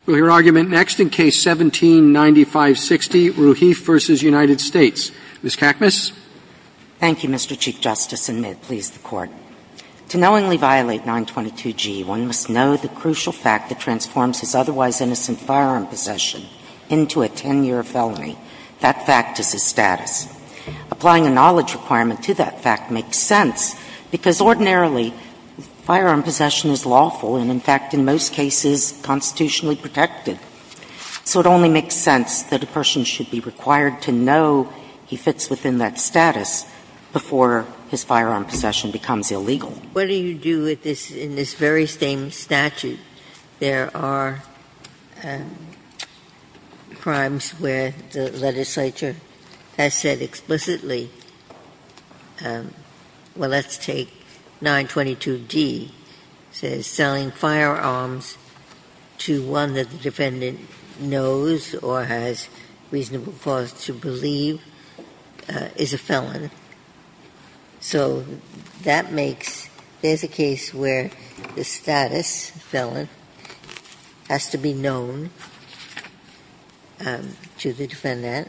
Sotomayor, we will hear argument next in Case 17-9560, Raheif v. United States. Ms. Kakmus. Kakmus. Thank you, Mr. Chief Justice, and may it please the Court. To knowingly violate 922G, one must know the crucial fact that transforms his otherwise innocent firearm possession into a 10-year felony. That fact is his status. Applying a knowledge requirement to that fact makes sense, because ordinarily firearm possession is lawful and, in fact, in most cases, constitutionally protected. So it only makes sense that a person should be required to know he fits within that status before his firearm possession becomes illegal. What do you do in this very same statute? There are crimes where the legislature has said explicitly, well, let's take 922G and 922D, says selling firearms to one that the defendant knows or has reasonable cause to believe is a felon. So that makes – there's a case where the status, felon, has to be known to the defendant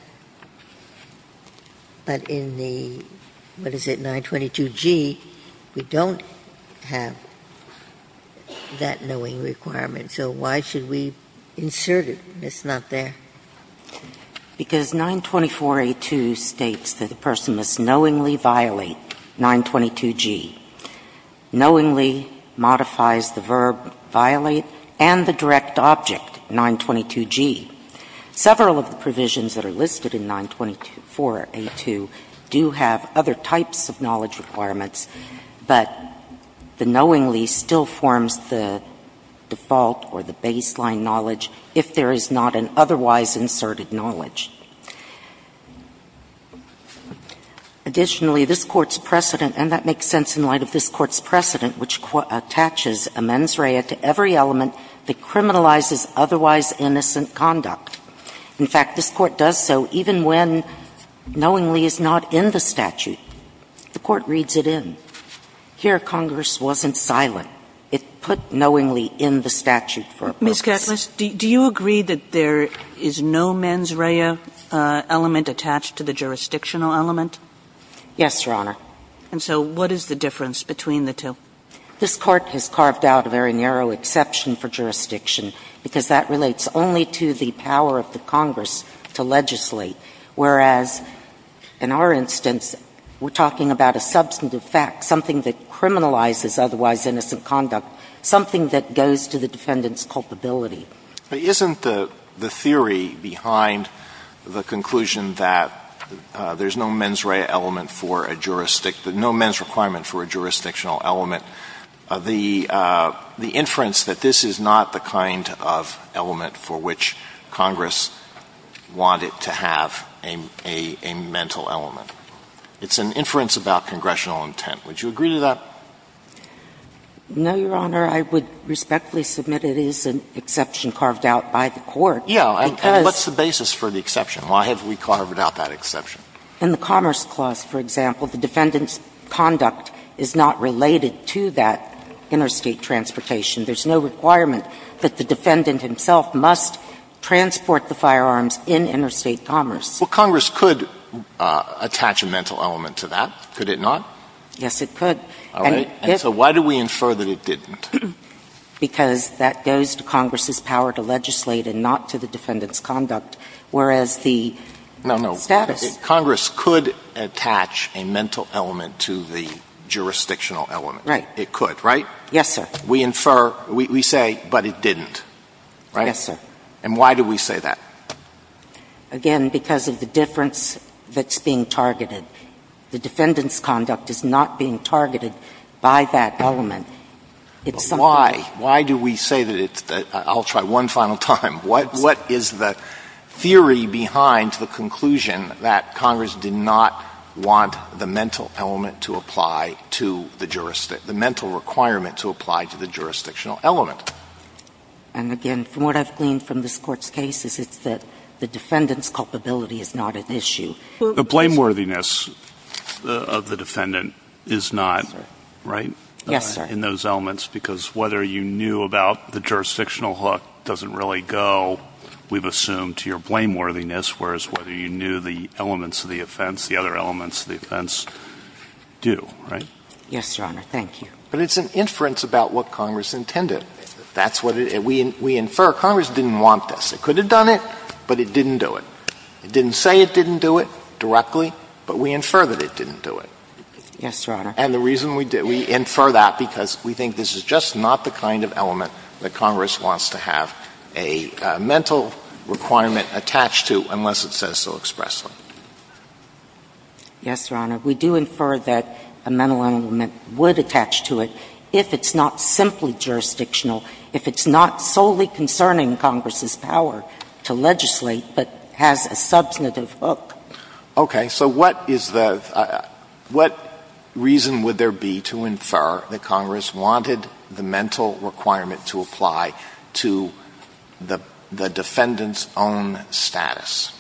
before he can have that knowing requirement. So why should we insert it? It's not there. Because 924A2 states that a person must knowingly violate 922G, knowingly modifies the verb violate and the direct object, 922G. Several of the provisions that are listed in 924A2 do have other types of knowledge requirements, but the knowingly still forms the default or the baseline knowledge if there is not an otherwise inserted knowledge. Additionally, this Court's precedent, and that makes sense in light of this Court's precedent, which attaches amends rea to every element that criminalizes otherwise innocent conduct. In fact, this Court does so even when knowingly is not in the statute. The Court reads it in. Here, Congress wasn't silent. It put knowingly in the statute for a purpose. Kagan. Ms. Kessler, do you agree that there is no mens rea element attached to the jurisdictional element? Yes, Your Honor. And so what is the difference between the two? This Court has carved out a very narrow exception for jurisdiction because that relates only to the power of the Congress to legislate, whereas in our instance, the statute we're talking about a substantive fact, something that criminalizes otherwise innocent conduct, something that goes to the defendant's culpability. Isn't the theory behind the conclusion that there's no mens rea element for a jurisdiction — no mens requirement for a jurisdictional element, the inference that this is not the kind of element for which Congress wanted to have a mental element? It's an inference about congressional intent. Would you agree to that? No, Your Honor. I would respectfully submit it is an exception carved out by the Court because Yeah. And what's the basis for the exception? Why have we carved out that exception? In the Commerce Clause, for example, the defendant's conduct is not related to that interstate transportation. There's no requirement that the defendant himself must transport the firearms in interstate commerce. Well, Congress could attach a mental element to that, could it not? Yes, it could. All right. And so why do we infer that it didn't? Because that goes to Congress's power to legislate and not to the defendant's conduct, whereas the status No, no. Congress could attach a mental element to the jurisdictional element. Right. It could, right? Yes, sir. We infer — we say, but it didn't, right? Yes, sir. And why do we say that? Again, because of the difference that's being targeted. The defendant's conduct is not being targeted by that element. It's something else. But why? Why do we say that it's — I'll try one final time. What is the theory behind the conclusion that Congress did not want the mental element to apply to the — the mental requirement to apply to the jurisdictional element? And again, from what I've gleaned from this Court's case is it's that the defendant's culpability is not an issue. The blameworthiness of the defendant is not, right? Yes, sir. In those elements, because whether you knew about the jurisdictional hook doesn't really go, we've assumed, to your blameworthiness, whereas whether you knew the elements of the offense, the other elements of the offense do, right? Yes, Your Honor. Thank you. But it's an inference about what Congress intended. That's what it — we infer Congress didn't want this. It could have done it, but it didn't do it. It didn't say it didn't do it directly, but we infer that it didn't do it. Yes, Your Honor. And the reason we do — we infer that because we think this is just not the kind of element that Congress wants to have a mental requirement attached to unless it says so expressly. Yes, Your Honor. We do infer that a mental element would attach to it if it's not simply jurisdictional if it's not solely concerning Congress's power to legislate, but has a substantive hook. Okay. So what is the — what reason would there be to infer that Congress wanted the mental requirement to apply to the defendant's own status?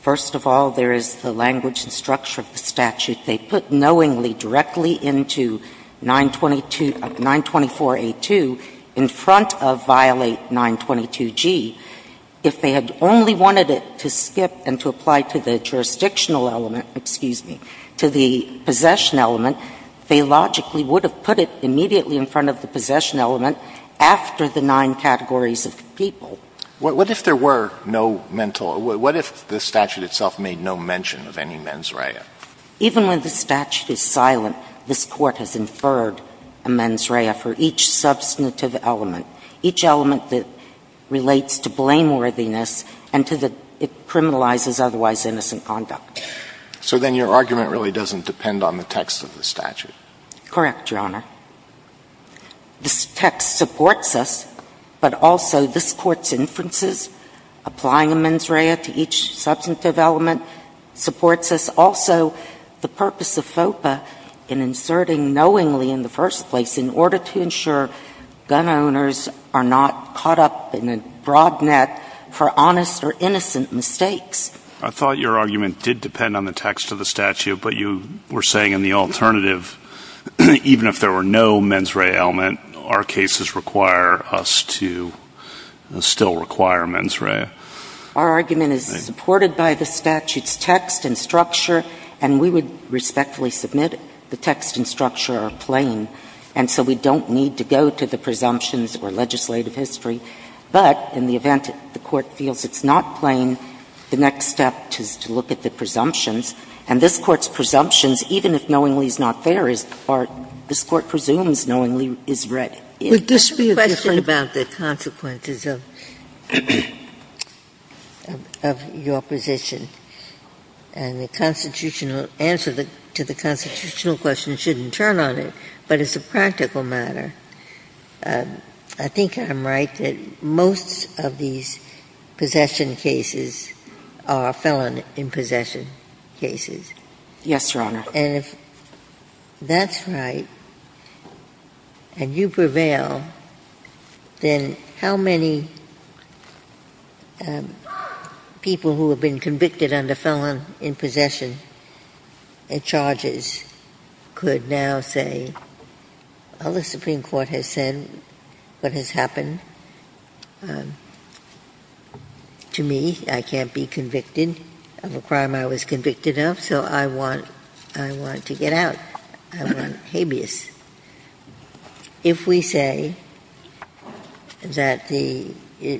First of all, there is the language and structure of the statute. They put knowingly directly into 924A2 in front of violate 922G. If they had only wanted it to skip and to apply to the jurisdictional element — excuse me — to the possession element, they logically would have put it immediately in front of the possession element after the nine categories of people. What if there were no mental — what if the statute itself made no mention of any mens rea? Even when the statute is silent, this Court has inferred a mens rea for each substantive element, each element that relates to blameworthiness and to the — it criminalizes otherwise innocent conduct. So then your argument really doesn't depend on the text of the statute. Correct, Your Honor. This text supports us, but also this Court's inferences, applying a mens rea to each element, and also the purpose of FOPA in inserting knowingly in the first place in order to ensure gun owners are not caught up in a broad net for honest or innocent mistakes. I thought your argument did depend on the text of the statute, but you were saying in the alternative, even if there were no mens rea element, our cases require us to still require mens rea. Our argument is supported by the statute's text and structure, and we would respectfully submit the text and structure are plain, and so we don't need to go to the presumptions or legislative history. But in the event the Court feels it's not plain, the next step is to look at the presumptions. And this Court's presumptions, even if knowingly is not there, this Court presumes knowingly is right. Would this be a question about the consequences of your position? And the constitutional answer to the constitutional question shouldn't turn on it, but as a practical matter, I think I'm right that most of these possession cases are felon-in-possession cases. Yes, Your Honor. And if that's right and you prevail, then how many people who have been convicted under felon-in-possession charges could now say, well, the Supreme Court has said what has happened to me. I can't be convicted of a crime I was convicted of, so I want to get out. I want habeas. If we say that the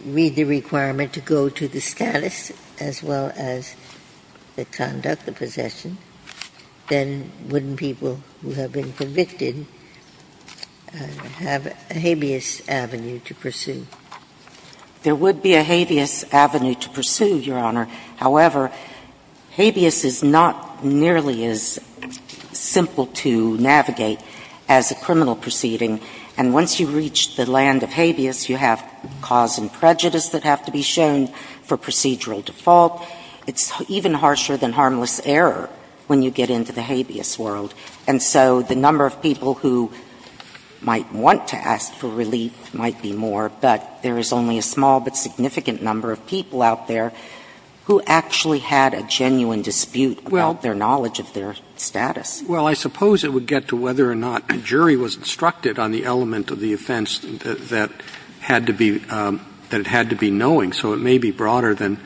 read the requirement to go to the status as well as the conduct of possession, then wouldn't people who have been convicted have a habeas avenue to pursue? There would be a habeas avenue to pursue, Your Honor. However, habeas is not nearly as simple to navigate as a criminal proceeding. And once you reach the land of habeas, you have cause and prejudice that have to be shown for procedural default. It's even harsher than harmless error when you get into the habeas world. And so the number of people who might want to ask for relief might be more, but there is only a small but significant number of people out there who actually had a genuine dispute about their knowledge of their status. Well, I suppose it would get to whether or not a jury was instructed on the element of the offense that had to be knowing, so it may be broader than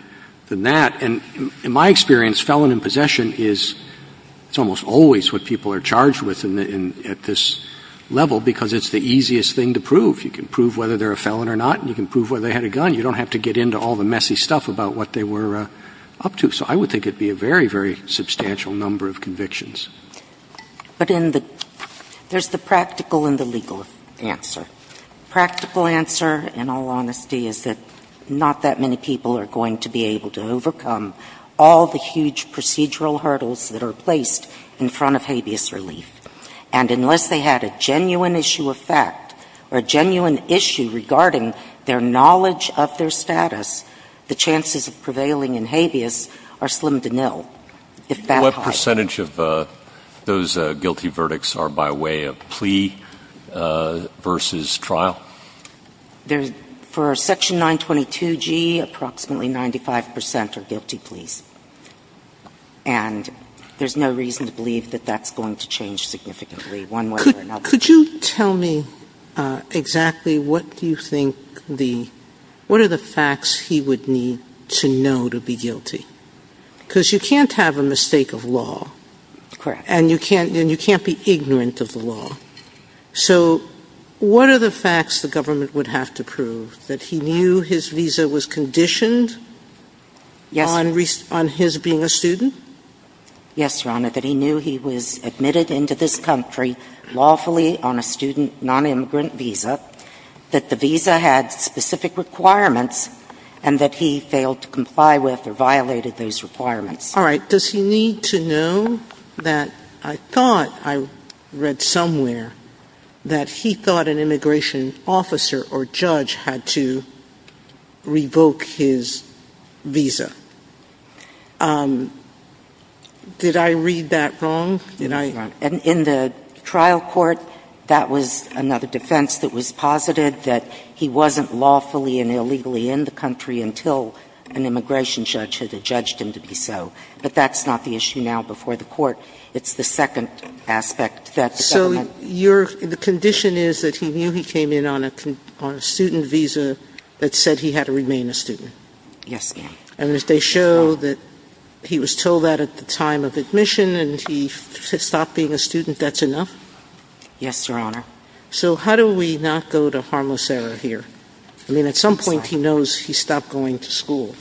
that. And in my experience, felon in possession is almost always what people are charged with at this level because it's the easiest thing to prove. You can prove whether they're a felon or not. You can prove whether they had a gun. You don't have to get into all the messy stuff about what they were up to. So I would think it would be a very, very substantial number of convictions. But in the – there's the practical and the legal answer. Practical answer, in all honesty, is that not that many people are going to be able to overcome all the huge procedural hurdles that are placed in front of habeas relief. And unless they had a genuine issue of fact or a genuine issue regarding their knowledge of their status, the chances of prevailing in habeas are slim to nil. If that high. What percentage of those guilty verdicts are by way of plea versus trial? For Section 922G, approximately 95 percent are guilty pleas. And there's no reason to believe that that's going to change significantly one way or another. Could you tell me exactly what do you think the – what are the facts he would need to know to be guilty? Because you can't have a mistake of law. Correct. And you can't be ignorant of the law. So what are the facts the government would have to prove? That he knew his visa was conditioned on his being a student? Yes, Your Honor, that he knew he was admitted into this country lawfully on a student non-immigrant visa, that the visa had specific requirements, and that he failed to comply with or violated those requirements. All right. Does he need to know that I thought I read somewhere that he thought an immigration officer or judge had to revoke his visa? Did I read that wrong? Did I? Your Honor, in the trial court, that was another defense that was posited, that he wasn't lawfully and illegally in the country until an immigration judge had judged him to be so. But that's not the issue now before the court. It's the second aspect that the government – So your – the condition is that he knew he came in on a student visa that said he had to remain a student? Yes, Your Honor. And did they show that he was told that at the time of admission and he stopped being a student, that's enough? Yes, Your Honor. So how do we not go to harmless error here? I mean, at some point, he knows he stopped going to school.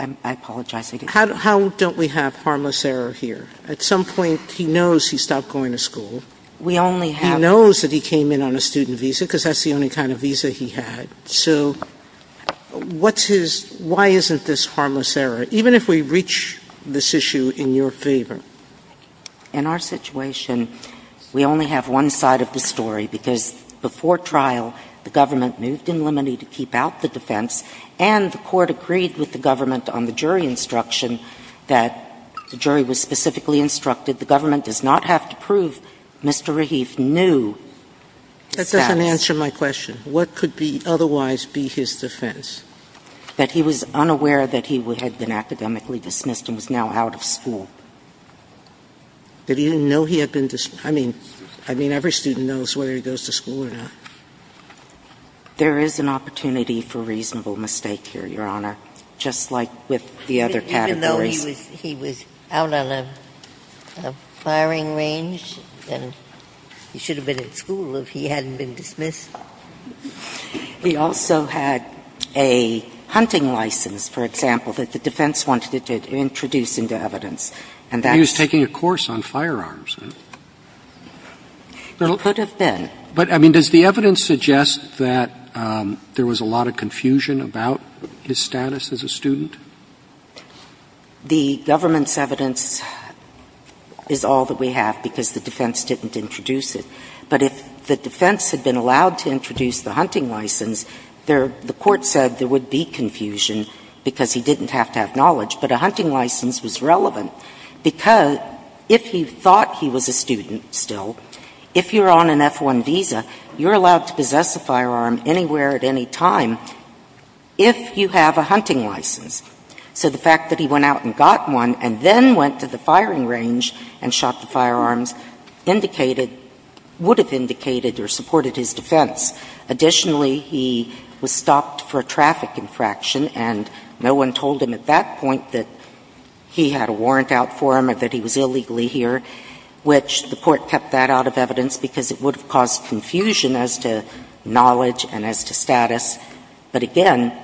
I apologize. How don't we have harmless error here? At some point, he knows he stopped going to school. We only have – He knows that he came in on a student visa because that's the only kind of visa he had. So what's his – why isn't this harmless error, even if we reach this issue in your favor? In our situation, we only have one side of the story because before trial, the defense was that Mr. Raheef knew that he had been academically dismissed and was now out of school. That he didn't know he had been – I mean, every student knows whether he goes I mean, he was unaware that he had been academically dismissed and was now out of school or not. There is an opportunity for reasonable mistake here, Your Honor, just like with the other categories. Even though he was out on a firing range? He should have been at school if he hadn't been dismissed. He also had a hunting license, for example, that the defense wanted to introduce into evidence. He was taking a course on firearms. Could have been. But, I mean, does the evidence suggest that there was a lot of confusion about his status as a student? The government's evidence is all that we have because the defense didn't introduce it. But if the defense had been allowed to introduce the hunting license, the court said there would be confusion because he didn't have to have knowledge. But a hunting license was relevant because if he thought he was a student still, if you're on an F-1 visa, you're allowed to possess a firearm anywhere at any time if you have a hunting license. So the fact that he went out and got one and then went to the firing range and shot the firearms indicated, would have indicated or supported his defense. Additionally, he was stopped for a traffic infraction, and no one told him at that point that he had a warrant out for him or that he was illegally here, which the court kept that out of evidence because it would have caused confusion as to knowledge and as to status. But again,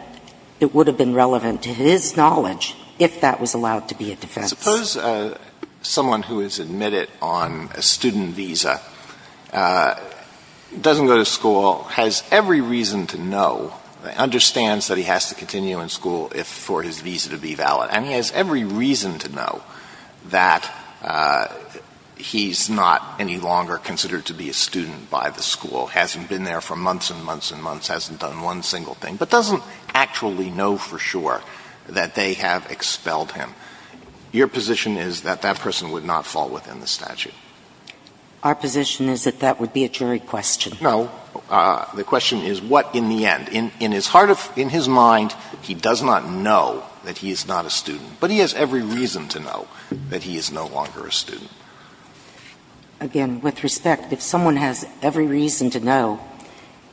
it would have been relevant to his knowledge if that was allowed to be a defense. Alito Suppose someone who is admitted on a student visa doesn't go to school, has every reason to know, understands that he has to continue in school for his visa to be valid, and he has every reason to know that he's not any longer considered to be a student by the school, hasn't been there for months and months and months, hasn't done one single thing, but doesn't actually know for sure that they have expelled him. Your position is that that person would not fall within the statute? Our position is that that would be a jury question. No. The question is what in the end. In his heart of his mind, he does not know that he is not a student, but he has every reason to know that he is no longer a student. Again, with respect, if someone has every reason to know,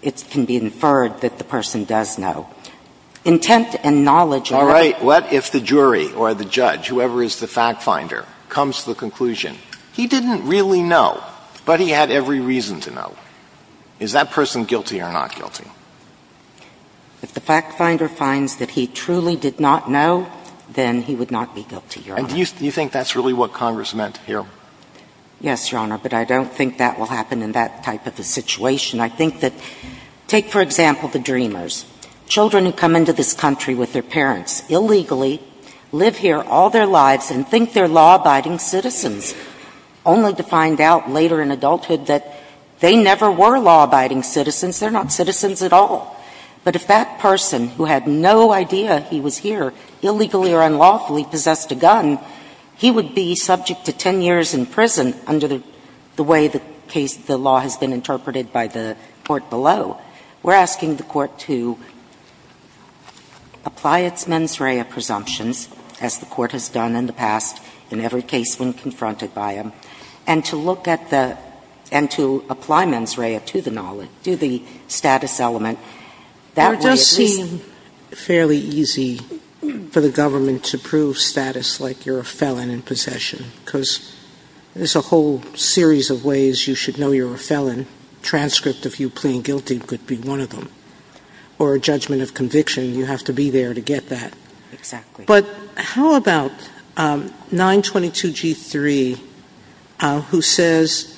it can be inferred that the person does know. Intent and knowledge are All right. He didn't really know, but he had every reason to know. Is that person guilty or not guilty? If the fact finder finds that he truly did not know, then he would not be guilty, Your Honor. And do you think that's really what Congress meant here? Yes, Your Honor, but I don't think that will happen in that type of a situation. I think that take, for example, the Dreamers, children who come into this country with their parents illegally, live here all their lives, and think they're law-abiding citizens, only to find out later in adulthood that they never were law-abiding citizens, they're not citizens at all. But if that person who had no idea he was here illegally or unlawfully possessed a gun, he would be subject to 10 years in prison under the way the case, the law has been interpreted by the Court below. We're asking the Court to apply its mens rea presumptions, as the Court has done in the past in every case when confronted by him, and to look at the – and to apply mens rea to the knowledge, to the status element. That way, at least – It does seem fairly easy for the government to prove status like you're a felon in possession, because there's a whole series of ways you should know you're a felon. Transcript of you pleading guilty could be one of them. Or a judgment of conviction, you have to be there to get that. Exactly. But how about 922G3, who says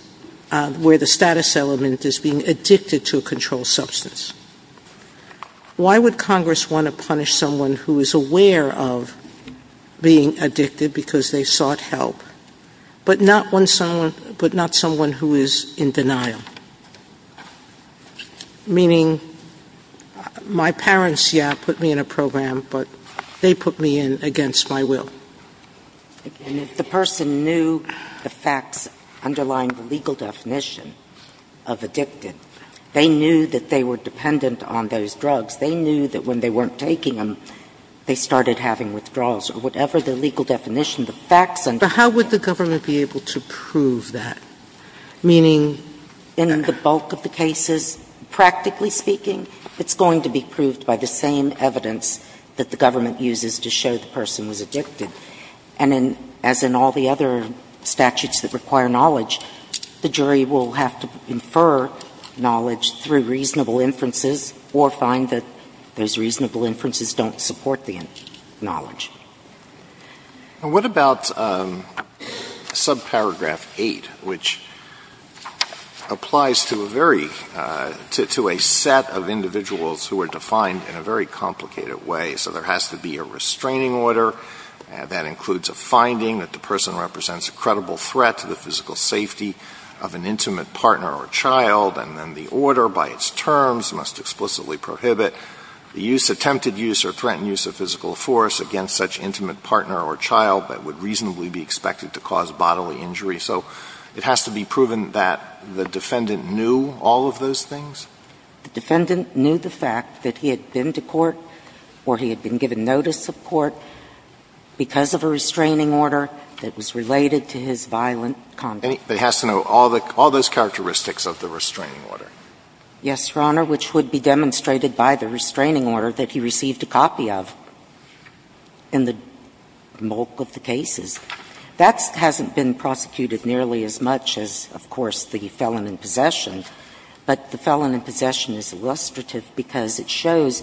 where the status element is being addicted to a controlled substance? Why would Congress want to punish someone who is aware of being addicted because they sought help, but not someone who is in denial? Meaning, my parents, yeah, put me in a program, but they put me in against my will. And if the person knew the facts underlying the legal definition of addicted, they knew that they were dependent on those drugs. They knew that when they weren't taking them, they started having withdrawals or whatever the legal definition, the facts. But how would the government be able to prove that? Meaning, in the bulk of the cases, practically speaking, it's going to be proved by the same evidence that the government uses to show the person was addicted. And as in all the other statutes that require knowledge, the jury will have to infer knowledge through reasonable inferences or find that those reasonable inferences don't support the knowledge. And what about subparagraph 8, which applies to a set of individuals who are defined in a very complicated way? So there has to be a restraining order. That includes a finding that the person represents a credible threat to the physical safety of an intimate partner or child. And then the order by its terms must explicitly prohibit the use, attempted use, or threatened use of physical force against such intimate partner or child that would reasonably be expected to cause bodily injury. So it has to be proven that the defendant knew all of those things? The defendant knew the fact that he had been to court or he had been given notice of court because of a restraining order that was related to his violent conduct. It has to know all those characteristics of the restraining order? Yes, Your Honor, which would be demonstrated by the restraining order that he received a copy of in the bulk of the cases. That hasn't been prosecuted nearly as much as, of course, the felon in possession. But the felon in possession is illustrative because it shows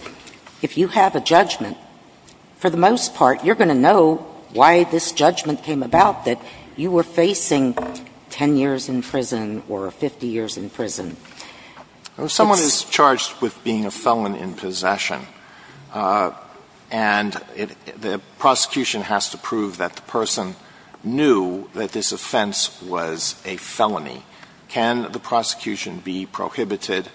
if you have a judgment, for the most part, you're going to know why this judgment came about, that you were Someone is charged with being a felon in possession, and the prosecution has to prove that the person knew that this offense was a felony. Can the prosecution be prohibited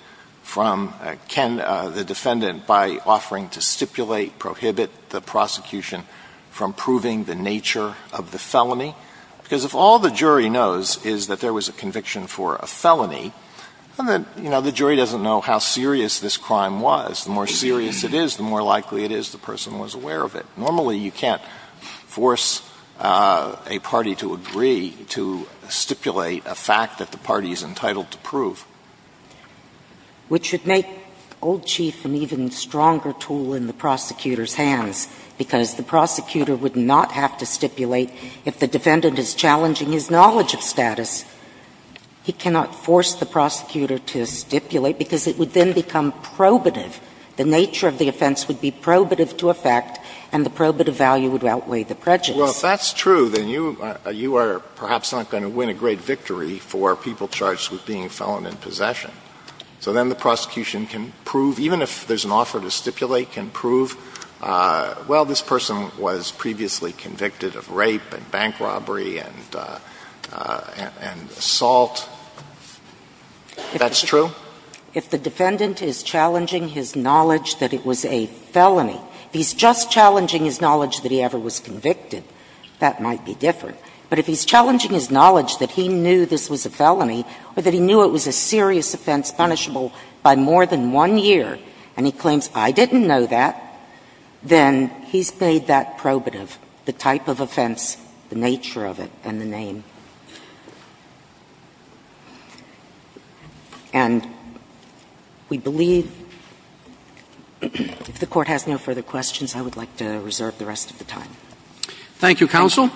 from – can the defendant, by offering to stipulate, prohibit the prosecution from proving the nature of the felony? Because if all the jury knows is that there was a conviction for a felony, then the jury doesn't know how serious this crime was. The more serious it is, the more likely it is the person was aware of it. Normally, you can't force a party to agree to stipulate a fact that the party is entitled to prove. Which would make Old Chief an even stronger tool in the prosecutor's hands, because the prosecutor would not have to stipulate if the defendant is challenging his knowledge of status. He cannot force the prosecutor to stipulate, because it would then become probative. The nature of the offense would be probative to effect, and the probative value would outweigh the prejudice. Well, if that's true, then you are perhaps not going to win a great victory for people charged with being a felon in possession. So then the prosecution can prove, even if there's an offer to stipulate, can prove, well, this person was previously convicted of rape and bank robbery and assault. If that's true? If the defendant is challenging his knowledge that it was a felony, if he's just challenging his knowledge that he ever was convicted, that might be different. But if he's challenging his knowledge that he knew this was a felony or that he knew it was a serious offense, punishable by more than one year, and he claims, I didn't know that, then he's made that probative, the type of offense, the nature of it, and the name. And we believe, if the Court has no further questions, I would like to reserve the rest of the time. Thank you, counsel.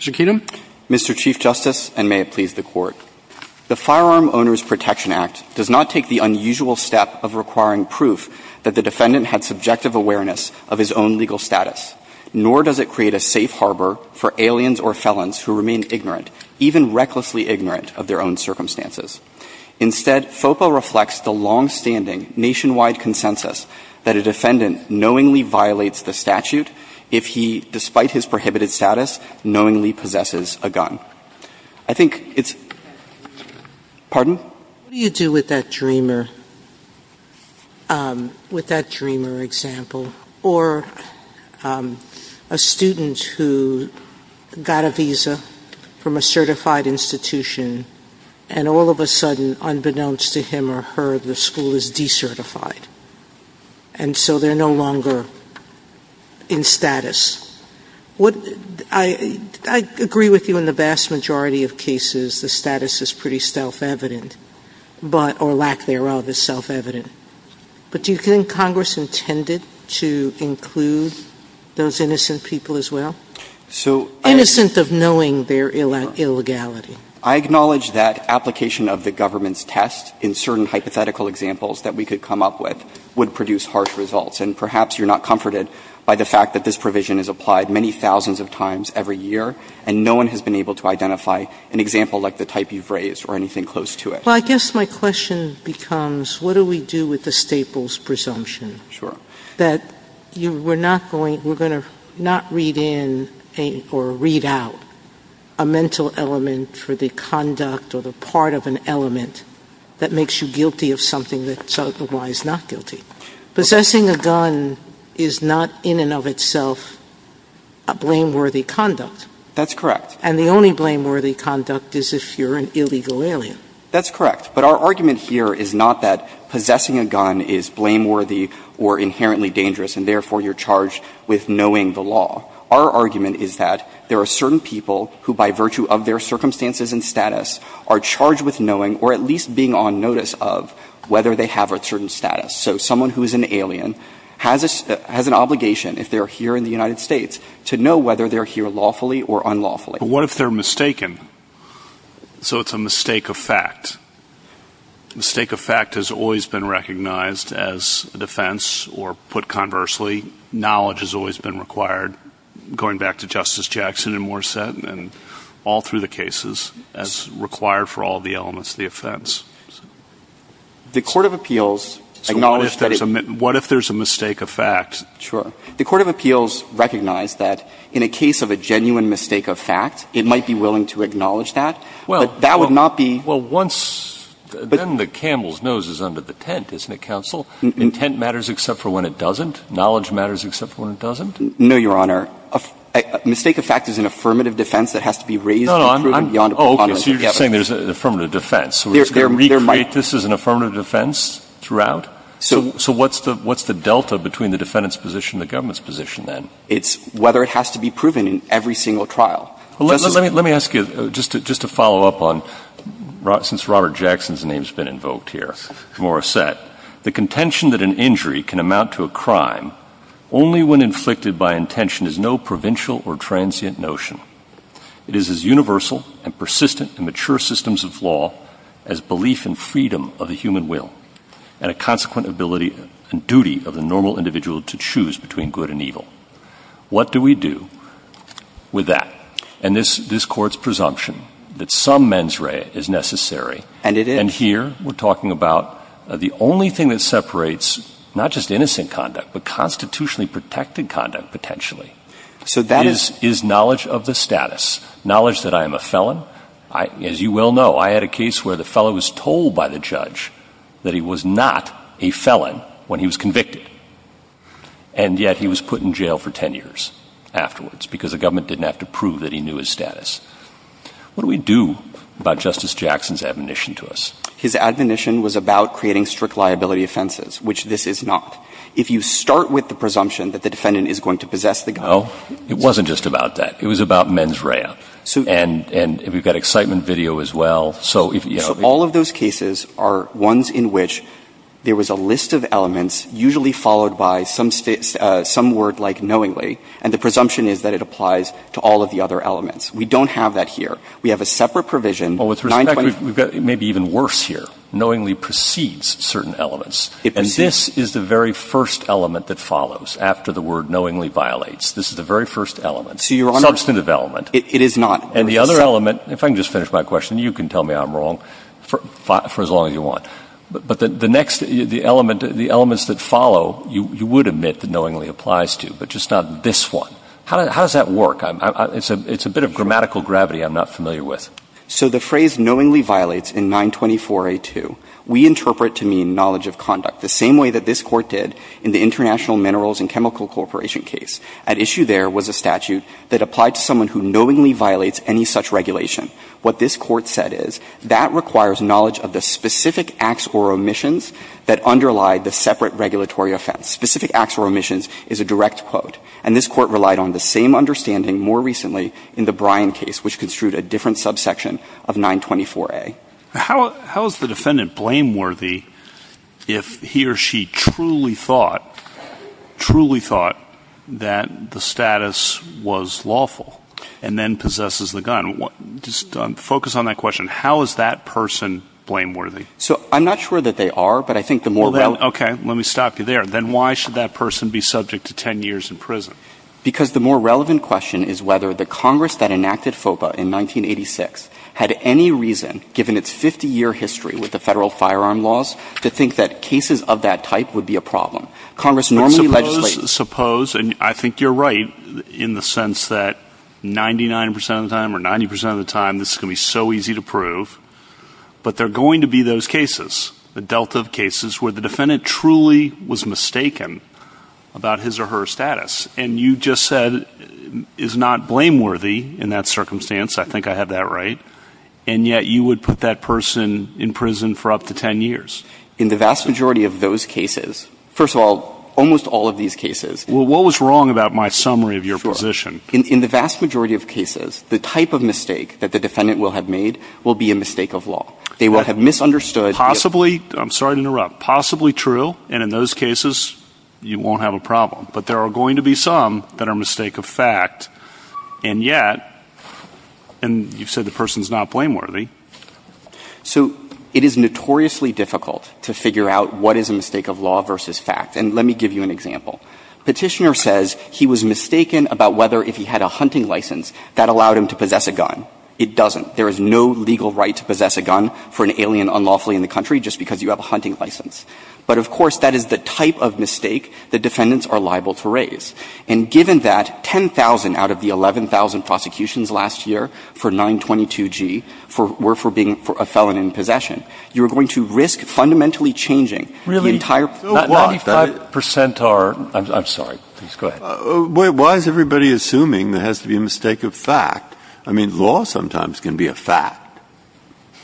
Mr. Keenum. Mr. Chief Justice, and may it please the Court. The Firearm Owners Protection Act does not take the unusual step of requiring proof that the defendant had subjective awareness of his own legal status, nor does it create a safe harbor for aliens or felons who remain ignorant, even recklessly ignorant of their own circumstances. Instead, FOPA reflects the longstanding nationwide consensus that a defendant knowingly violates the statute if he, despite his prohibited status, knowingly possesses a gun. I think it's – pardon? What do you do with that Dreamer, with that Dreamer example, or a student who got a visa from a certified institution, and all of a sudden, unbeknownst to him or her, the school is decertified, and so they're no longer in status? What – I agree with you in the vast majority of cases, the status is pretty self-evident, but – or lack thereof is self-evident. But do you think Congress intended to include those innocent people as well? Innocent of knowing their illegality. I acknowledge that application of the government's test in certain hypothetical examples that we could come up with would produce harsh results, and perhaps you're not comforted by the fact that this provision is applied many thousands of times every year, and no one has been able to identify an example like the type you've raised or anything close to it. Well, I guess my question becomes, what do we do with the Staples presumption? Sure. That you were not going – we're going to not read in or read out a mental element for the conduct or the part of an element that makes you guilty of something that's otherwise not guilty. Possessing a gun is not in and of itself a blameworthy conduct. That's correct. And the only blameworthy conduct is if you're an illegal alien. That's correct. But our argument here is not that possessing a gun is blameworthy or inherently dangerous, and therefore you're charged with knowing the law. Our argument is that there are certain people who, by virtue of their circumstances and status, are charged with knowing or at least being on notice of whether they have a certain status. So someone who is an alien has a – has an obligation, if they're here in the United States, to know whether they're here lawfully or unlawfully. But what if they're mistaken? So it's a mistake of fact. A mistake of fact has always been recognized as a defense, or put conversely, knowledge has always been required, going back to Justice Jackson and Morissette and all through the cases, as required for all the elements of the offense. The court of appeals acknowledged that it – So what if there's a – what if there's a mistake of fact? Sure. The court of appeals recognized that in a case of a genuine mistake of fact, it might be willing to acknowledge that. But that would not be – Well, once – then the camel's nose is under the tent, isn't it, counsel? And tent matters except for when it doesn't? Knowledge matters except for when it doesn't? No, Your Honor. A mistake of fact is an affirmative defense that has to be raised and proven beyond a prejudice. Oh, okay. So you're just saying there's an affirmative defense. So we're just going to recreate this as an affirmative defense throughout? So what's the – what's the delta between the defendant's position and the government's position, then? It's whether it has to be proven in every single trial. Let me ask you, just to follow up on – since Robert Jackson's name has been invoked here, Morissette, the contention that an injury can amount to a crime only when inflicted by intention is no provincial or transient notion. It is as universal and persistent in mature systems of law as belief in freedom of the human will and a consequent ability and duty of the normal individual to choose between good and evil. What do we do with that? And this Court's presumption that some mens rea is necessary. And it is. And here we're talking about the only thing that separates not just innocent conduct but constitutionally protected conduct, potentially, is knowledge of the status, knowledge that I am a felon. As you well know, I had a case where the felon was told by the judge that he was not a felon when he was convicted. And yet he was put in jail for 10 years afterwards because the government didn't have to prove that he knew his status. What do we do about Justice Jackson's admonition to us? His admonition was about creating strict liability offenses, which this is not. If you start with the presumption that the defendant is going to possess the gun – Well, it wasn't just about that. It was about mens rea. And we've got excitement video as well. So if – All of those cases are ones in which there was a list of elements usually followed by some word like knowingly, and the presumption is that it applies to all of the other elements. We don't have that here. We have a separate provision, 925 – Well, with respect, we've got maybe even worse here. Knowingly precedes certain elements. It precedes. And this is the very first element that follows after the word knowingly violates. This is the very first element. So, Your Honor – Substantive element. It is not. And the other element – if I can just finish my question, you can tell me I'm wrong for as long as you want. But the next – the elements that follow, you would admit that knowingly applies to, but just not this one. How does that work? It's a bit of grammatical gravity I'm not familiar with. So the phrase knowingly violates in 924a2, we interpret to mean knowledge of conduct, the same way that this Court did in the International Minerals and Chemical Corporation case. At issue there was a statute that applied to someone who knowingly violates any such regulation. What this Court said is, that requires knowledge of the specific acts or omissions that underlie the separate regulatory offense. Specific acts or omissions is a direct quote. And this Court relied on the same understanding more recently in the Bryan case, which construed a different subsection of 924a. How is the defendant blameworthy if he or she truly thought – truly thought that the status was lawful and then possesses the gun? Just focus on that question. How is that person blameworthy? So I'm not sure that they are, but I think the more – Okay, let me stop you there. Then why should that person be subject to 10 years in prison? Because the more relevant question is whether the Congress that enacted FOBA in 1986 had any reason, given its 50-year history with the Federal firearm laws, to think that cases of that type would be a problem. Congress normally legislates – But suppose – suppose, and I think you're right in the sense that 99 percent of the time or 90 percent of the time this is going to be so easy to prove, but there are going to be those cases, the delta of cases, where the defendant truly was mistaken about his or her status. And you just said is not blameworthy in that circumstance. I think I have that right. And yet you would put that person in prison for up to 10 years. In the vast majority of those cases – first of all, almost all of these cases. Well, what was wrong about my summary of your position? Sure. In the vast majority of cases, the type of mistake that the defendant will have made will be a mistake of law. They will have misunderstood – Possibly – I'm sorry to interrupt. Possibly true, and in those cases, you won't have a problem. But there are going to be some that are a mistake of fact, and yet – and you've said the person's not blameworthy. So it is notoriously difficult to figure out what is a mistake of law versus fact. And let me give you an example. Petitioner says he was mistaken about whether if he had a hunting license that allowed him to possess a gun. It doesn't. There is no legal right to possess a gun for an alien unlawfully in the country just because you have a hunting license. But, of course, that is the type of mistake that defendants are liable to raise. And given that 10,000 out of the 11,000 prosecutions last year for 922G were for being a felon in possession, you are going to risk fundamentally changing the entire – 95 percent are – I'm sorry. Please go ahead. Why is everybody assuming there has to be a mistake of fact? I mean, law sometimes can be a fact.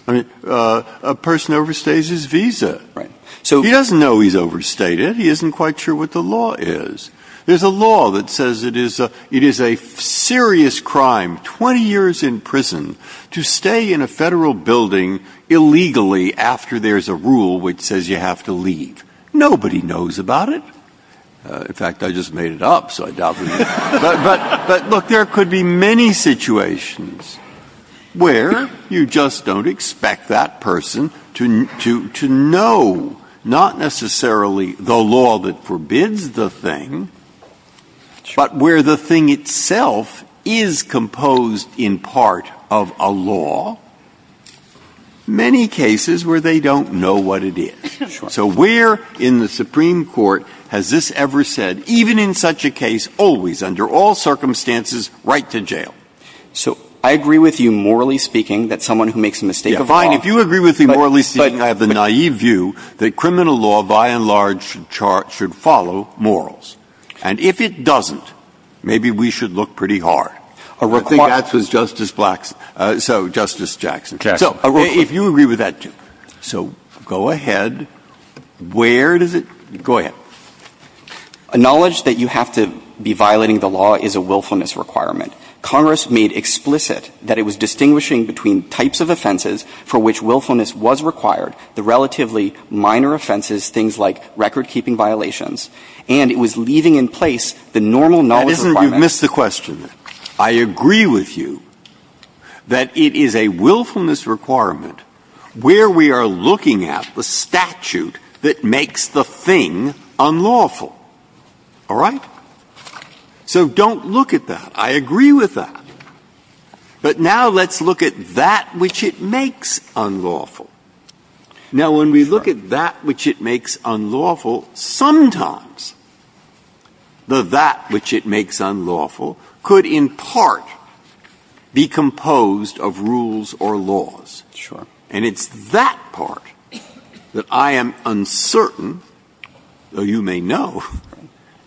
I mean, a person overstays his visa. So he doesn't know he's overstayed it. He isn't quite sure what the law is. There's a law that says it is a serious crime, 20 years in prison, to stay in a Federal building illegally after there's a rule which says you have to leave. Nobody knows about it. In fact, I just made it up, so I doubt we know. But, look, there could be many situations where you just don't expect that person to know, not necessarily the law that forbids the thing, but where the thing itself is composed in part of a law. Many cases where they don't know what it is. So where in the Supreme Court has this ever said, even in such a case, always, under all circumstances, write to jail? So I agree with you morally speaking that someone who makes a mistake of law – I agree with you morally speaking. I have the naive view that criminal law, by and large, should follow morals. And if it doesn't, maybe we should look pretty hard. I think that's what Justice Black's – so, Justice Jackson. So if you agree with that, too. So go ahead. Where does it – go ahead. Acknowledge that you have to be violating the law is a willfulness requirement. Congress made explicit that it was distinguishing between types of offenses for which willfulness was required, the relatively minor offenses, things like record-keeping violations, and it was leaving in place the normal knowledge requirement. That isn't – you've missed the question. I agree with you that it is a willfulness requirement where we are looking at the statute that makes the thing unlawful. All right? So don't look at that. I agree with that. But now let's look at that which it makes unlawful. Now, when we look at that which it makes unlawful, sometimes the that which it makes unlawful could in part be composed of rules or laws. Sure. And it's that part that I am uncertain, though you may know,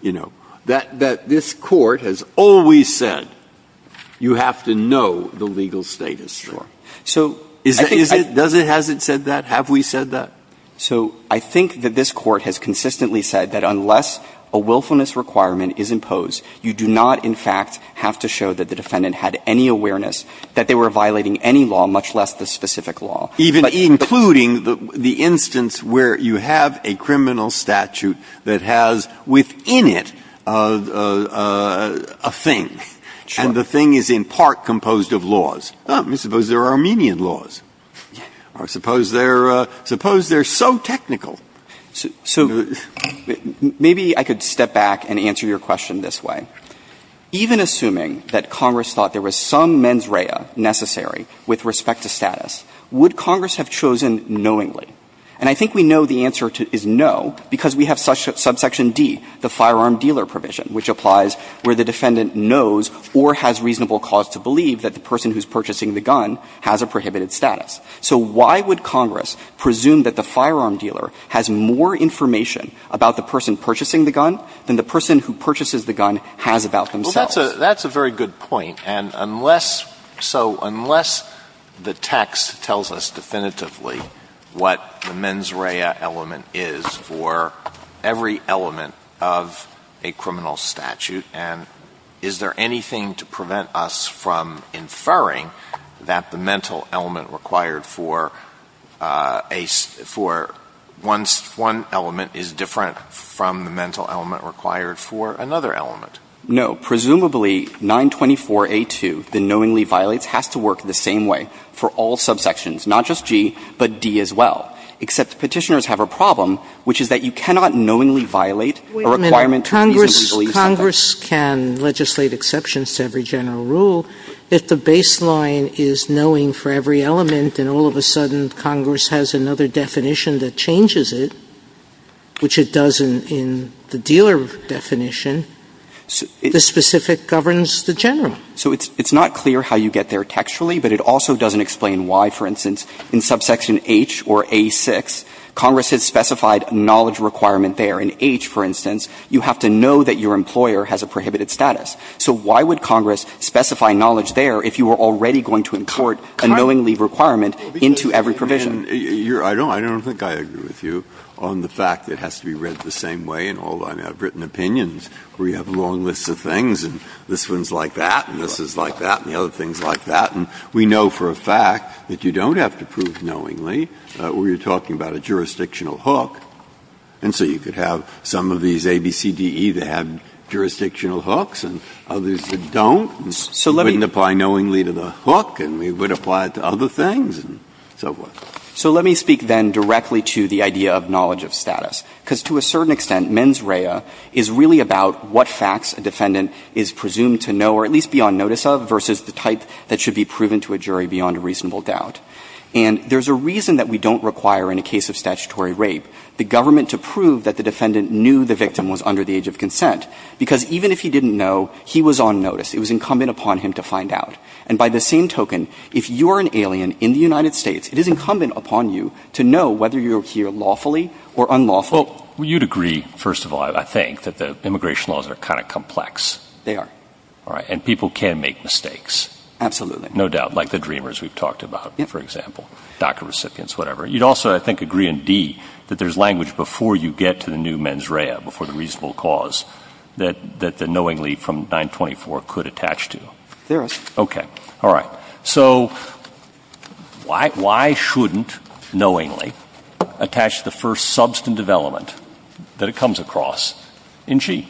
you know, that this Court has always said you have to know the legal status. Sure. So is it – does it – has it said that? Have we said that? So I think that this Court has consistently said that unless a willfulness requirement is imposed, you do not, in fact, have to show that the defendant had any awareness that they were violating any law, much less the specific law. Even including the instance where you have a criminal statute that has within it a thing. Sure. And the thing is in part composed of laws. Let me suppose there are Armenian laws. Yeah. Or suppose they're – suppose they're so technical. So maybe I could step back and answer your question this way. Even assuming that Congress thought there was some mens rea necessary with respect to status, would Congress have chosen knowingly? And I think we know the answer is no, because we have subsection D, the firearm dealer provision, which applies where the defendant knows or has reasonable cause to believe that the person who's purchasing the gun has a prohibited status. So why would Congress presume that the firearm dealer has more information about the person purchasing the gun than the person who purchases the gun has about themselves? Well, that's a – that's a very good point. And unless – so unless the text tells us definitively what the mens rea element is for every element of a criminal statute, and is there anything to prevent us from inferring that the mental element required for a – for one element is different from the mental element required for another element? No. Presumably, 924a2, the knowingly violates, has to work the same way for all subsections, not just G, but D as well, except Petitioners have a problem, which is that you cannot knowingly violate a requirement to reasonably believe something. Wait a minute. Congress – Congress can legislate exceptions to every general rule. If the baseline is knowing for every element and all of a sudden Congress has another definition, the specific governs the general. So it's – it's not clear how you get there textually, but it also doesn't explain why, for instance, in subsection H or A6, Congress has specified a knowledge requirement there. In H, for instance, you have to know that your employer has a prohibited status. So why would Congress specify knowledge there if you were already going to import a knowingly requirement into every provision? I don't – I don't think I agree with you on the fact that it has to be read the same way in certain opinions where you have long lists of things and this one's like that and this is like that and the other thing's like that. And we know for a fact that you don't have to prove knowingly where you're talking about a jurisdictional hook, and so you could have some of these A, B, C, D, E that have jurisdictional hooks and others that don't. You wouldn't apply knowingly to the hook and we would apply it to other things and so forth. So let me speak then directly to the idea of knowledge of status, because to a certain extent, mens rea is really about what facts a defendant is presumed to know or at least be on notice of versus the type that should be proven to a jury beyond a reasonable doubt. And there's a reason that we don't require in a case of statutory rape the government to prove that the defendant knew the victim was under the age of consent. Because even if he didn't know, he was on notice. It was incumbent upon him to find out. And by the same token, if you're an alien in the United States, it is incumbent upon you to know whether you're here lawfully or unlawfully. Well, you'd agree, first of all, I think, that the immigration laws are kind of complex. They are. All right. And people can make mistakes. Absolutely. No doubt. Like the dreamers we've talked about, for example, DACA recipients, whatever. You'd also, I think, agree in D that there's language before you get to the new mens rea, before the reasonable cause, that the knowingly from 924 could attach to. There is. Okay. All right. So why shouldn't knowingly attach the first substantive element that it comes across in G?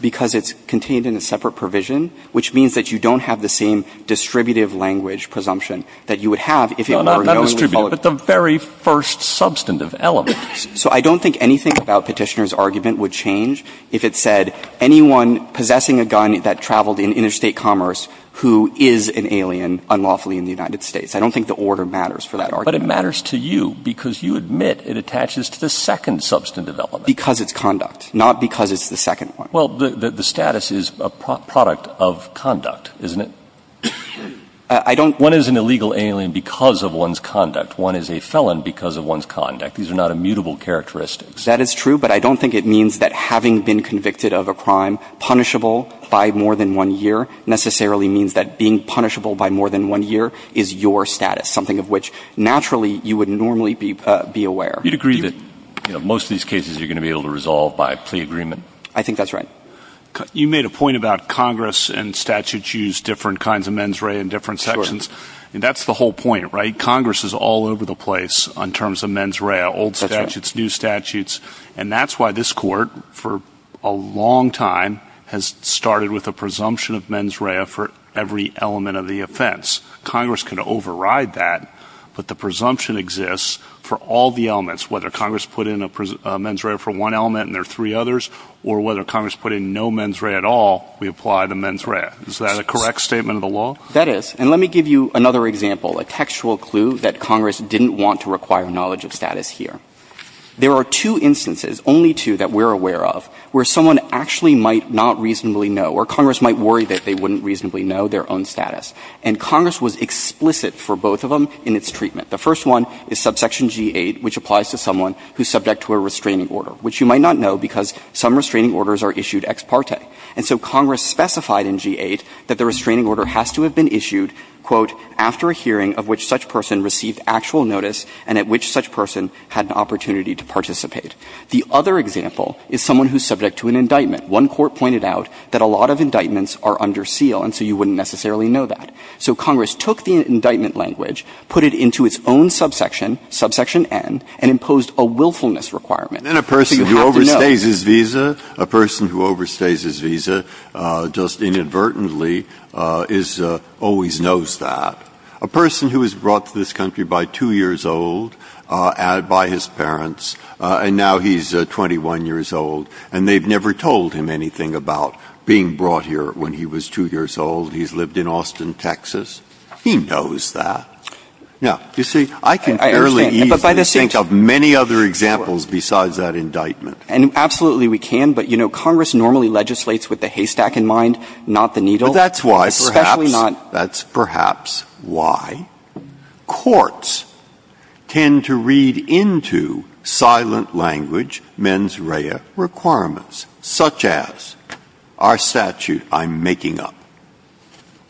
Because it's contained in a separate provision, which means that you don't have the same distributive language presumption that you would have if it were a knowingly followed presumption. No, not distributive, but the very first substantive element. So I don't think anything about Petitioner's argument would change if it said anyone possessing a gun that traveled in interstate commerce who is an alien unlawfully in the United States. I don't think the order matters for that argument. But it matters to you because you admit it attaches to the second substantive element. Because it's conduct. Not because it's the second one. Well, the status is a product of conduct, isn't it? I don't. One is an illegal alien because of one's conduct. One is a felon because of one's conduct. These are not immutable characteristics. That is true, but I don't think it means that having been convicted of a crime punishable by more than one year necessarily means that being punishable by more than one year is your status, something of which naturally you would normally be aware. You'd agree that most of these cases you're going to be able to resolve by plea agreement? I think that's right. You made a point about Congress and statutes use different kinds of mens rea in different sections. Sure. And that's the whole point, right? Congress is all over the place in terms of mens rea. That's right. It's new statutes. And that's why this Court for a long time has started with a presumption of mens rea for every element of the offense. Congress can override that, but the presumption exists for all the elements, whether Congress put in a mens rea for one element and there are three others, or whether Congress put in no mens rea at all, we apply the mens rea. Is that a correct statement of the law? That is. And let me give you another example, a textual clue that Congress didn't want to give. There are two instances, only two, that we're aware of where someone actually might not reasonably know or Congress might worry that they wouldn't reasonably know their own status. And Congress was explicit for both of them in its treatment. The first one is subsection G-8, which applies to someone who's subject to a restraining order, which you might not know because some restraining orders are issued ex parte. And so Congress specified in G-8 that the restraining order has to have been issued, quote, after a hearing of which such person received actual notice and at which such person had an opportunity to participate. The other example is someone who's subject to an indictment. One court pointed out that a lot of indictments are under seal, and so you wouldn't necessarily know that. So Congress took the indictment language, put it into its own subsection, subsection N, and imposed a willfulness requirement. So you have to know. Breyer. And then a person who overstays his visa, a person who overstays his visa just inadvertently is always knows that. A person who was brought to this country by 2 years old, by his parents, and now he's 21 years old, and they've never told him anything about being brought here when he was 2 years old, he's lived in Austin, Texas, he knows that. Now, you see, I can fairly easily think of many other examples besides that indictment. And absolutely we can. But, you know, Congress normally legislates with the haystack in mind, not the needle. But that's why perhaps, that's perhaps why courts tend to read into silent language mens rea requirements, such as our statute I'm making up.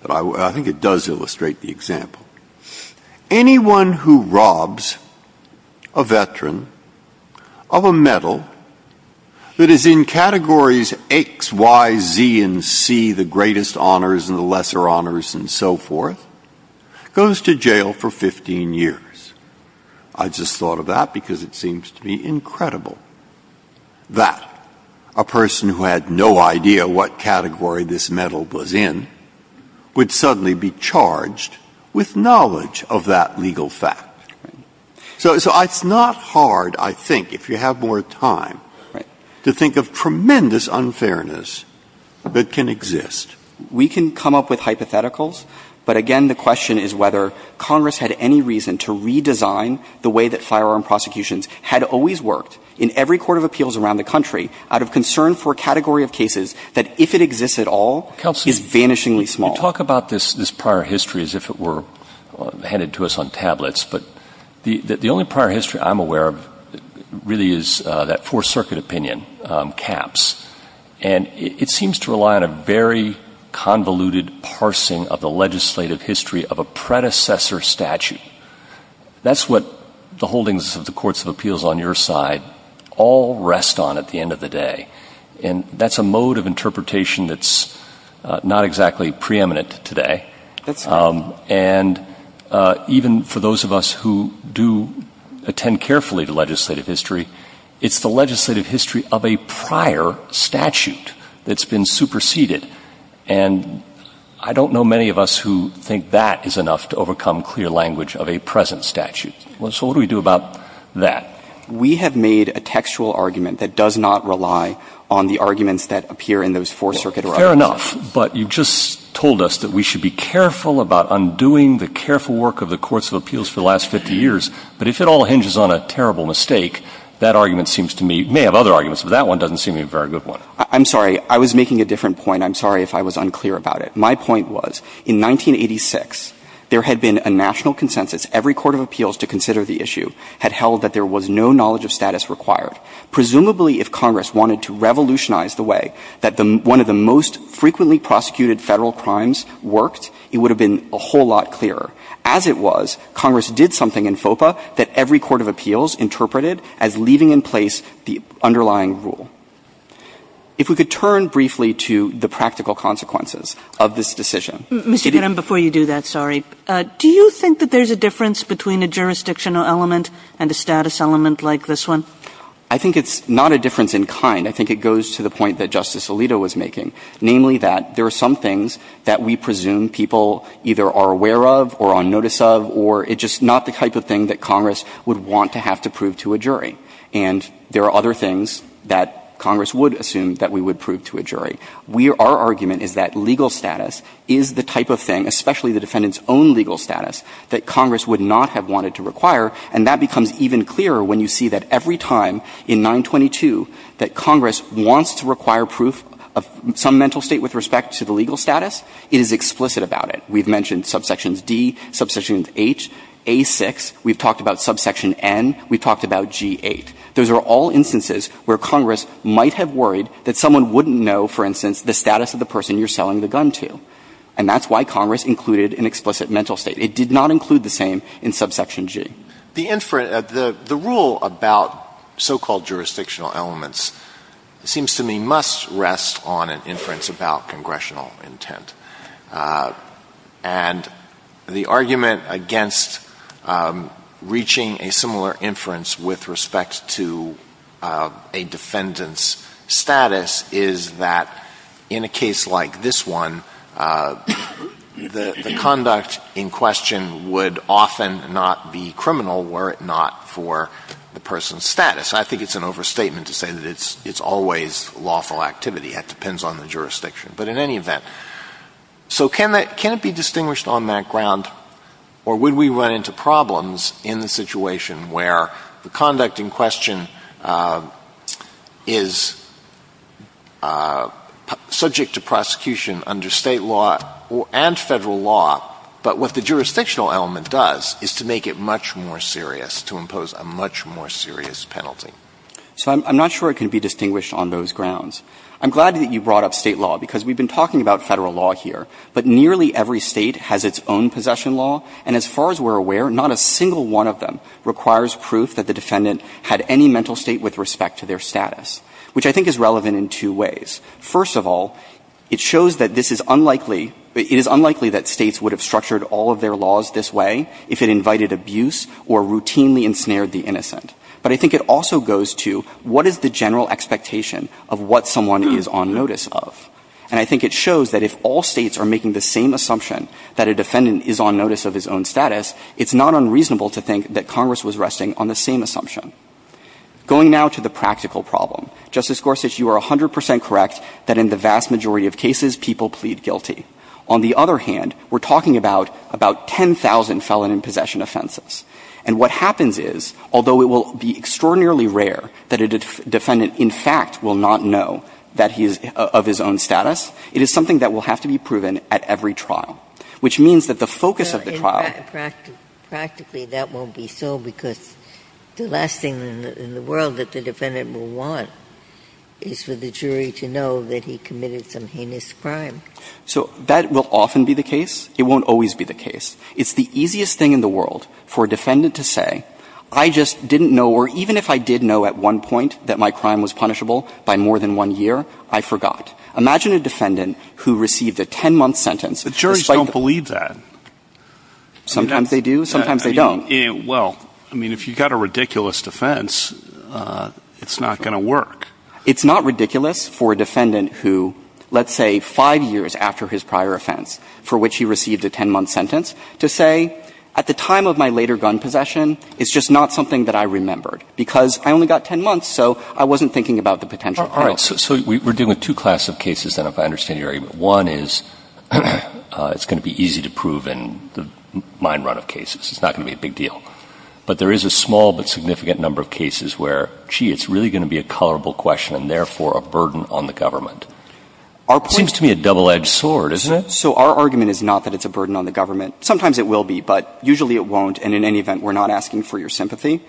I think it does illustrate the example. Anyone who robs a veteran of a medal that is in categories X, Y, Z, and C, the greatest honors and the lesser honors and so forth, goes to jail for 15 years. I just thought of that because it seems to be incredible that a person who had no idea what category this medal was in would suddenly be charged with knowledge of that legal fact. So it's not hard, I think, if you have more time, to think of tremendous unfairness that can exist. We can come up with hypotheticals. But, again, the question is whether Congress had any reason to redesign the way that firearm prosecutions had always worked in every court of appeals around the country out of concern for a category of cases that, if it exists at all, is vanishingly small. Counsel, you talk about this prior history as if it were handed to us on tablets. But the only prior history I'm aware of really is that Fourth Circuit opinion, caps. And it seems to rely on a very convoluted parsing of the legislative history of a predecessor statute. That's what the holdings of the courts of appeals on your side all rest on at the end of the day. And that's a mode of interpretation that's not exactly preeminent today. And even for those of us who do attend carefully to legislative history, it's the only prior statute that's been superseded. And I don't know many of us who think that is enough to overcome clear language of a present statute. So what do we do about that? We have made a textual argument that does not rely on the arguments that appear in those Fourth Circuit arguments. Fair enough. But you just told us that we should be careful about undoing the careful work of the courts of appeals for the last 50 years. But if it all hinges on a terrible mistake, that argument seems to me – may have other arguments, but that one doesn't seem to be a very good one. I'm sorry. I was making a different point. I'm sorry if I was unclear about it. My point was, in 1986, there had been a national consensus. Every court of appeals to consider the issue had held that there was no knowledge of status required. Presumably, if Congress wanted to revolutionize the way that one of the most frequently prosecuted Federal crimes worked, it would have been a whole lot clearer. As it was, Congress did something in FOPA that every court of appeals interpreted as leaving in place the underlying rule. If we could turn briefly to the practical consequences of this decision. Ms. Kagan, before you do that, sorry, do you think that there's a difference between a jurisdictional element and a status element like this one? I think it's not a difference in kind. I think it goes to the point that Justice Alito was making, namely that there are some things that we presume people either are aware of or on notice of, or it's just not the type of thing that Congress would want to have to prove to a jury. And there are other things that Congress would assume that we would prove to a jury. Our argument is that legal status is the type of thing, especially the defendant's own legal status, that Congress would not have wanted to require. And that becomes even clearer when you see that every time in 922 that Congress wants to require proof of some mental state with respect to the legal status, it is explicit about it. We've mentioned subsections D, subsections H, A6. We've talked about subsection N. We've talked about G8. Those are all instances where Congress might have worried that someone wouldn't know, for instance, the status of the person you're selling the gun to. And that's why Congress included an explicit mental state. It did not include the same in subsection G. The rule about so-called jurisdictional elements seems to me must rest on an inference about congressional intent. And the argument against reaching a similar inference with respect to a defendant's status is that in a case like this one, the conduct in question would often not be criminal were it not for the person's status. I think it's an overstatement to say that it's always lawful activity. It depends on the jurisdiction. But in any event, so can it be distinguished on that ground, or would we run into problems in the situation where the conduct in question is subject to prosecution under State law and Federal law, but what the jurisdictional element does is to make it much more serious, to impose a much more serious penalty? So I'm not sure it can be distinguished on those grounds. I'm glad that you brought up State law, because we've been talking about Federal law here, but nearly every State has its own possession law. And as far as we're aware, not a single one of them requires proof that the defendant had any mental state with respect to their status, which I think is relevant in two ways. First of all, it shows that this is unlikely – it is unlikely that States would have structured all of their laws this way if it invited abuse or routinely ensnared the innocent. But I think it also goes to what is the general expectation of what someone is on notice of? And I think it shows that if all States are making the same assumption that a defendant is on notice of his own status, it's not unreasonable to think that Congress was resting on the same assumption. Going now to the practical problem. Justice Gorsuch, you are 100 percent correct that in the vast majority of cases, people plead guilty. On the other hand, we're talking about 10,000 felon in possession offenses. And what happens is, although it will be extraordinarily rare that a defendant in fact will not know that he is of his own status, it is something that will have to be proven at every trial, which means that the focus of the trial – Ginsburg Well, in fact, practically that won't be so because the last thing in the world that the defendant will want is for the jury to know that he committed some heinous crime. So that will often be the case. It won't always be the case. It's the easiest thing in the world for a defendant to say, I just didn't know or even if I did know at one point that my crime was punishable by more than one year, I forgot. Imagine a defendant who received a 10-month sentence. Alito But juries don't believe that. Gorsuch Sometimes they do. Sometimes they don't. Alito Well, I mean, if you've got a ridiculous defense, it's not going to work. Gorsuch It's not ridiculous for a defendant who, let's say five years after his prior offense for which he received a 10-month sentence, to say, at the time of my later gun possession, it's just not something that I remembered because I only got 10 months, so I wasn't thinking about the potential. Alito All right. So we're dealing with two classes of cases, then, if I understand your argument. One is it's going to be easy to prove in the mine run of cases. It's not going to be a big deal. But there is a small but significant number of cases where, gee, it's really going to be a colorable question and, therefore, a burden on the government. It seems to me a double-edged sword, isn't it? So our argument is not that it's a burden on the government. Sometimes it will be, but usually it won't. And in any event, we're not asking for your sympathy.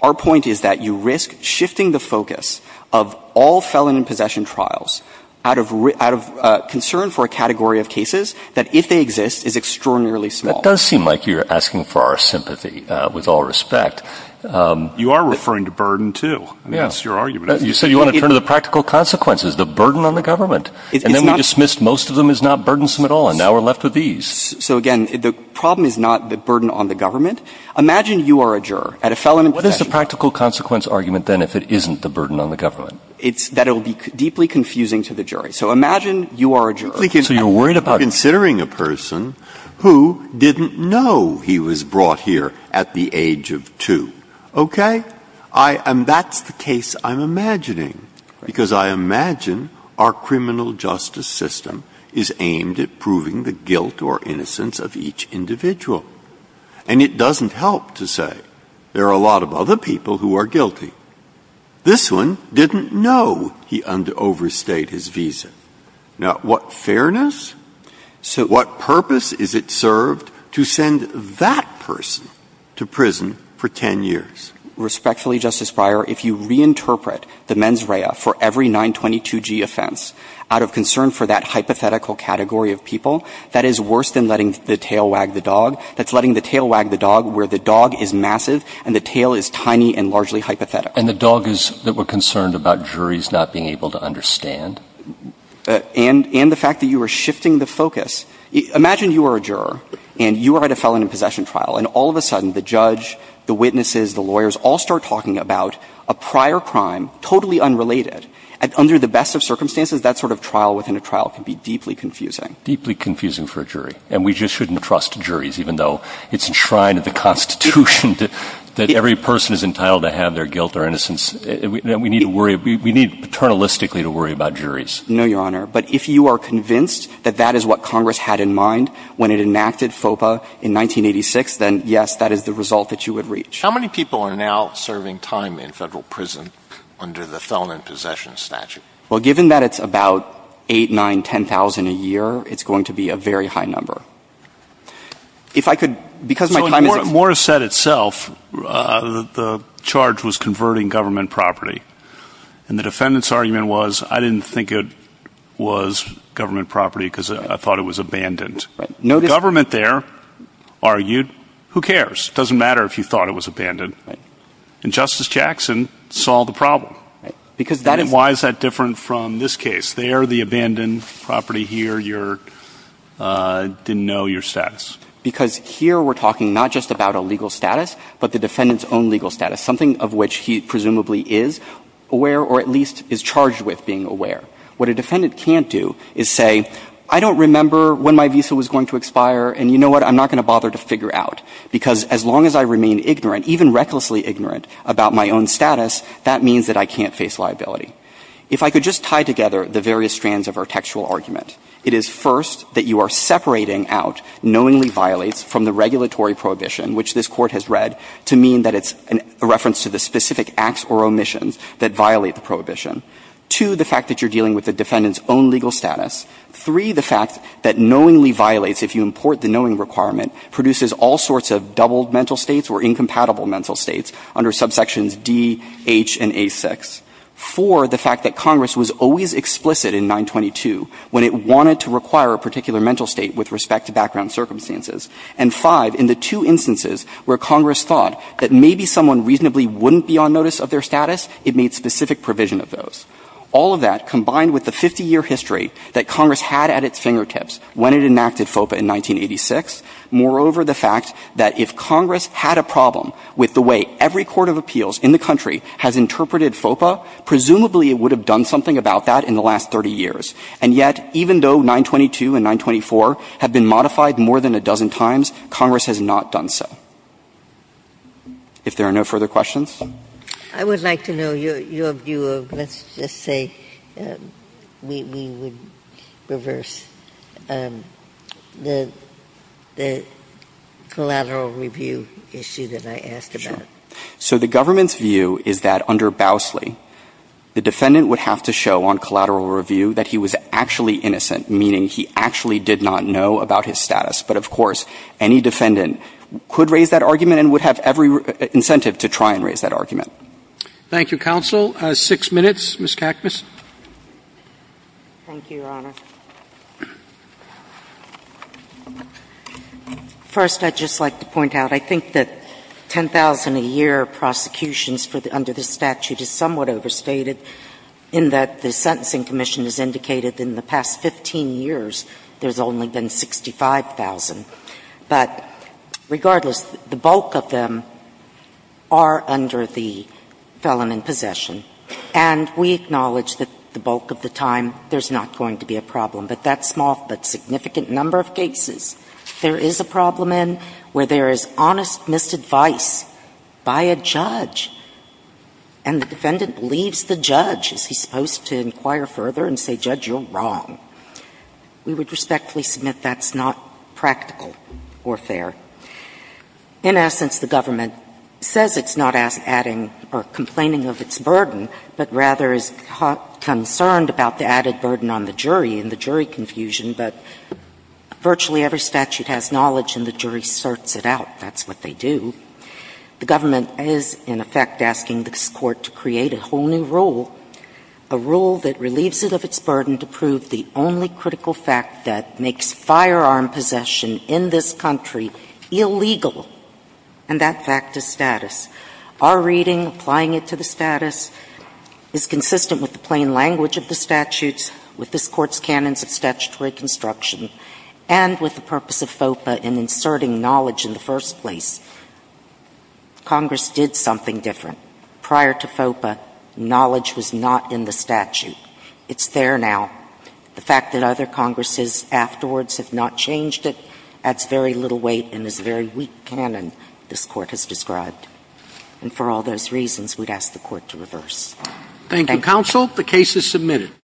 Our point is that you risk shifting the focus of all felon in possession trials out of concern for a category of cases that, if they exist, is extraordinarily small. Breyer That does seem like you're asking for our sympathy, with all respect. Alito You are referring to burden, too. Breyer Yes. Alito That's your argument. You said you want to turn to the practical consequences, the burden on the government. Breyer It's not Alito And then we dismissed most of them as not burdensome at all, and now we're left with these. Breyer So, again, the problem is not the burden on the government. Imagine you are a juror at a felon in possession trial. Alito What is the practical consequence argument, then, if it isn't the burden on the government? It's that it will be deeply confusing to the jury. So imagine you are a juror. Alito So you're worried about And you're considering a person who didn't know he was brought here at the age of two. Okay? And that's the case I'm imagining, because I imagine our criminal justice system is aimed at proving the guilt or innocence of each individual. And it doesn't help to say there are a lot of other people who are guilty. This one didn't know he overstayed his visa. Now, what fairness, what purpose is it served to send that person to prison for 10 years? Respectfully, Justice Breyer, if you reinterpret the mens rea for every 922G offense out of concern for that hypothetical category of people, that is worse than letting the tail wag the dog. That's letting the tail wag the dog where the dog is massive and the tail is tiny and largely hypothetical. And the dog is that we're concerned about juries not being able to understand? And the fact that you are shifting the focus. Imagine you are a juror, and you are at a felon in possession trial. And all of a sudden, the judge, the witnesses, the lawyers all start talking about a prior crime totally unrelated. Under the best of circumstances, that sort of trial within a trial can be deeply confusing. Deeply confusing for a jury. And we just shouldn't trust juries, even though it's enshrined in the Constitution that every person is entitled to have their guilt or innocence. We need to worry. We need paternalistically to worry about juries. No, Your Honor. But if you are convinced that that is what Congress had in mind when it enacted FOPA in 1986, then yes, that is the result that you would reach. How many people are now serving time in Federal prison under the felon in possession statute? Well, given that it's about 8, 9, 10,000 a year, it's going to be a very high number. If I could, because my time is So in Morrissette itself, the charge was converting government property. And the defendant's argument was I didn't think it was government property because I thought it was abandoned. The government there argued, who cares? It doesn't matter if you thought it was abandoned. And Justice Jackson solved the problem. And why is that different from this case? There, the abandoned property. Here, your didn't know your status. Because here we're talking not just about a legal status, but the defendant's own legal status, something of which he presumably is aware or at least is charged with being aware. What a defendant can't do is say I don't remember when my visa was going to expire and you know what, I'm not going to bother to figure out. Because as long as I remain ignorant, even recklessly ignorant about my own status, that means that I can't face liability. If I could just tie together the various strands of our textual argument, it is first that you are separating out knowingly violates from the regulatory prohibition, which this Court has read, to mean that it's a reference to the specific acts or omissions that violate the prohibition. Two, the fact that you're dealing with the defendant's own legal status. Three, the fact that knowingly violates, if you import the knowing requirement, produces all sorts of doubled mental states or incompatible mental states under subsections D, H, and A6. Four, the fact that Congress was always explicit in 922 when it wanted to require a particular mental state with respect to background circumstances. And five, in the two instances where Congress thought that maybe someone reasonably wouldn't be on notice of their status, it made specific provision of those. All of that combined with the 50-year history that Congress had at its fingertips when it enacted FOPA in 1986. Moreover, the fact that if Congress had a problem with the way every court of appeals in the country has interpreted FOPA, presumably it would have done something about that in the last 30 years. And yet, even though 922 and 924 have been modified more than a dozen times, Congress has not done so. If there are no further questions? Ginsburg. I would like to know your view of, let's just say we would reverse the collateral review issue that I asked about. Sure. So the government's view is that under Bousley, the defendant would have to show on collateral review that he was actually innocent, meaning he actually did not know about his status. But, of course, any defendant could raise that argument and would have every incentive to try and raise that argument. Thank you, counsel. Six minutes. Ms. Cacmus. Thank you, Your Honor. First, I'd just like to point out, I think that 10,000-a-year prosecutions under this statute is somewhat overstated in that the Sentencing Commission has indicated in the past 15 years there's only been 65,000. But regardless, the bulk of them are under the felon in possession. And we acknowledge that the bulk of the time there's not going to be a problem, but that's a small but significant number of cases there is a problem in where there is honest misadvice by a judge, and the defendant believes the judge. Is he supposed to inquire further and say, judge, you're wrong? We would respectfully submit that's not practical or fair. In essence, the government says it's not adding or complaining of its burden, but rather is concerned about the added burden on the jury and the jury confusion, but virtually every statute has knowledge and the jury sorts it out. That's what they do. The government is, in effect, asking this Court to create a whole new rule, a rule that relieves it of its burden to prove the only critical fact that makes firearm possession in this country illegal, and that fact is status. Our reading, applying it to the status, is consistent with the plain language of the statutes, with this Court's canons of statutory construction, and with the asserting knowledge in the first place. Congress did something different. Prior to FOPA, knowledge was not in the statute. It's there now. The fact that other Congresses afterwards have not changed it adds very little weight and is a very weak canon this Court has described. And for all those reasons, we'd ask the Court to reverse. Thank you. Roberts. Thank you, counsel. The case is submitted.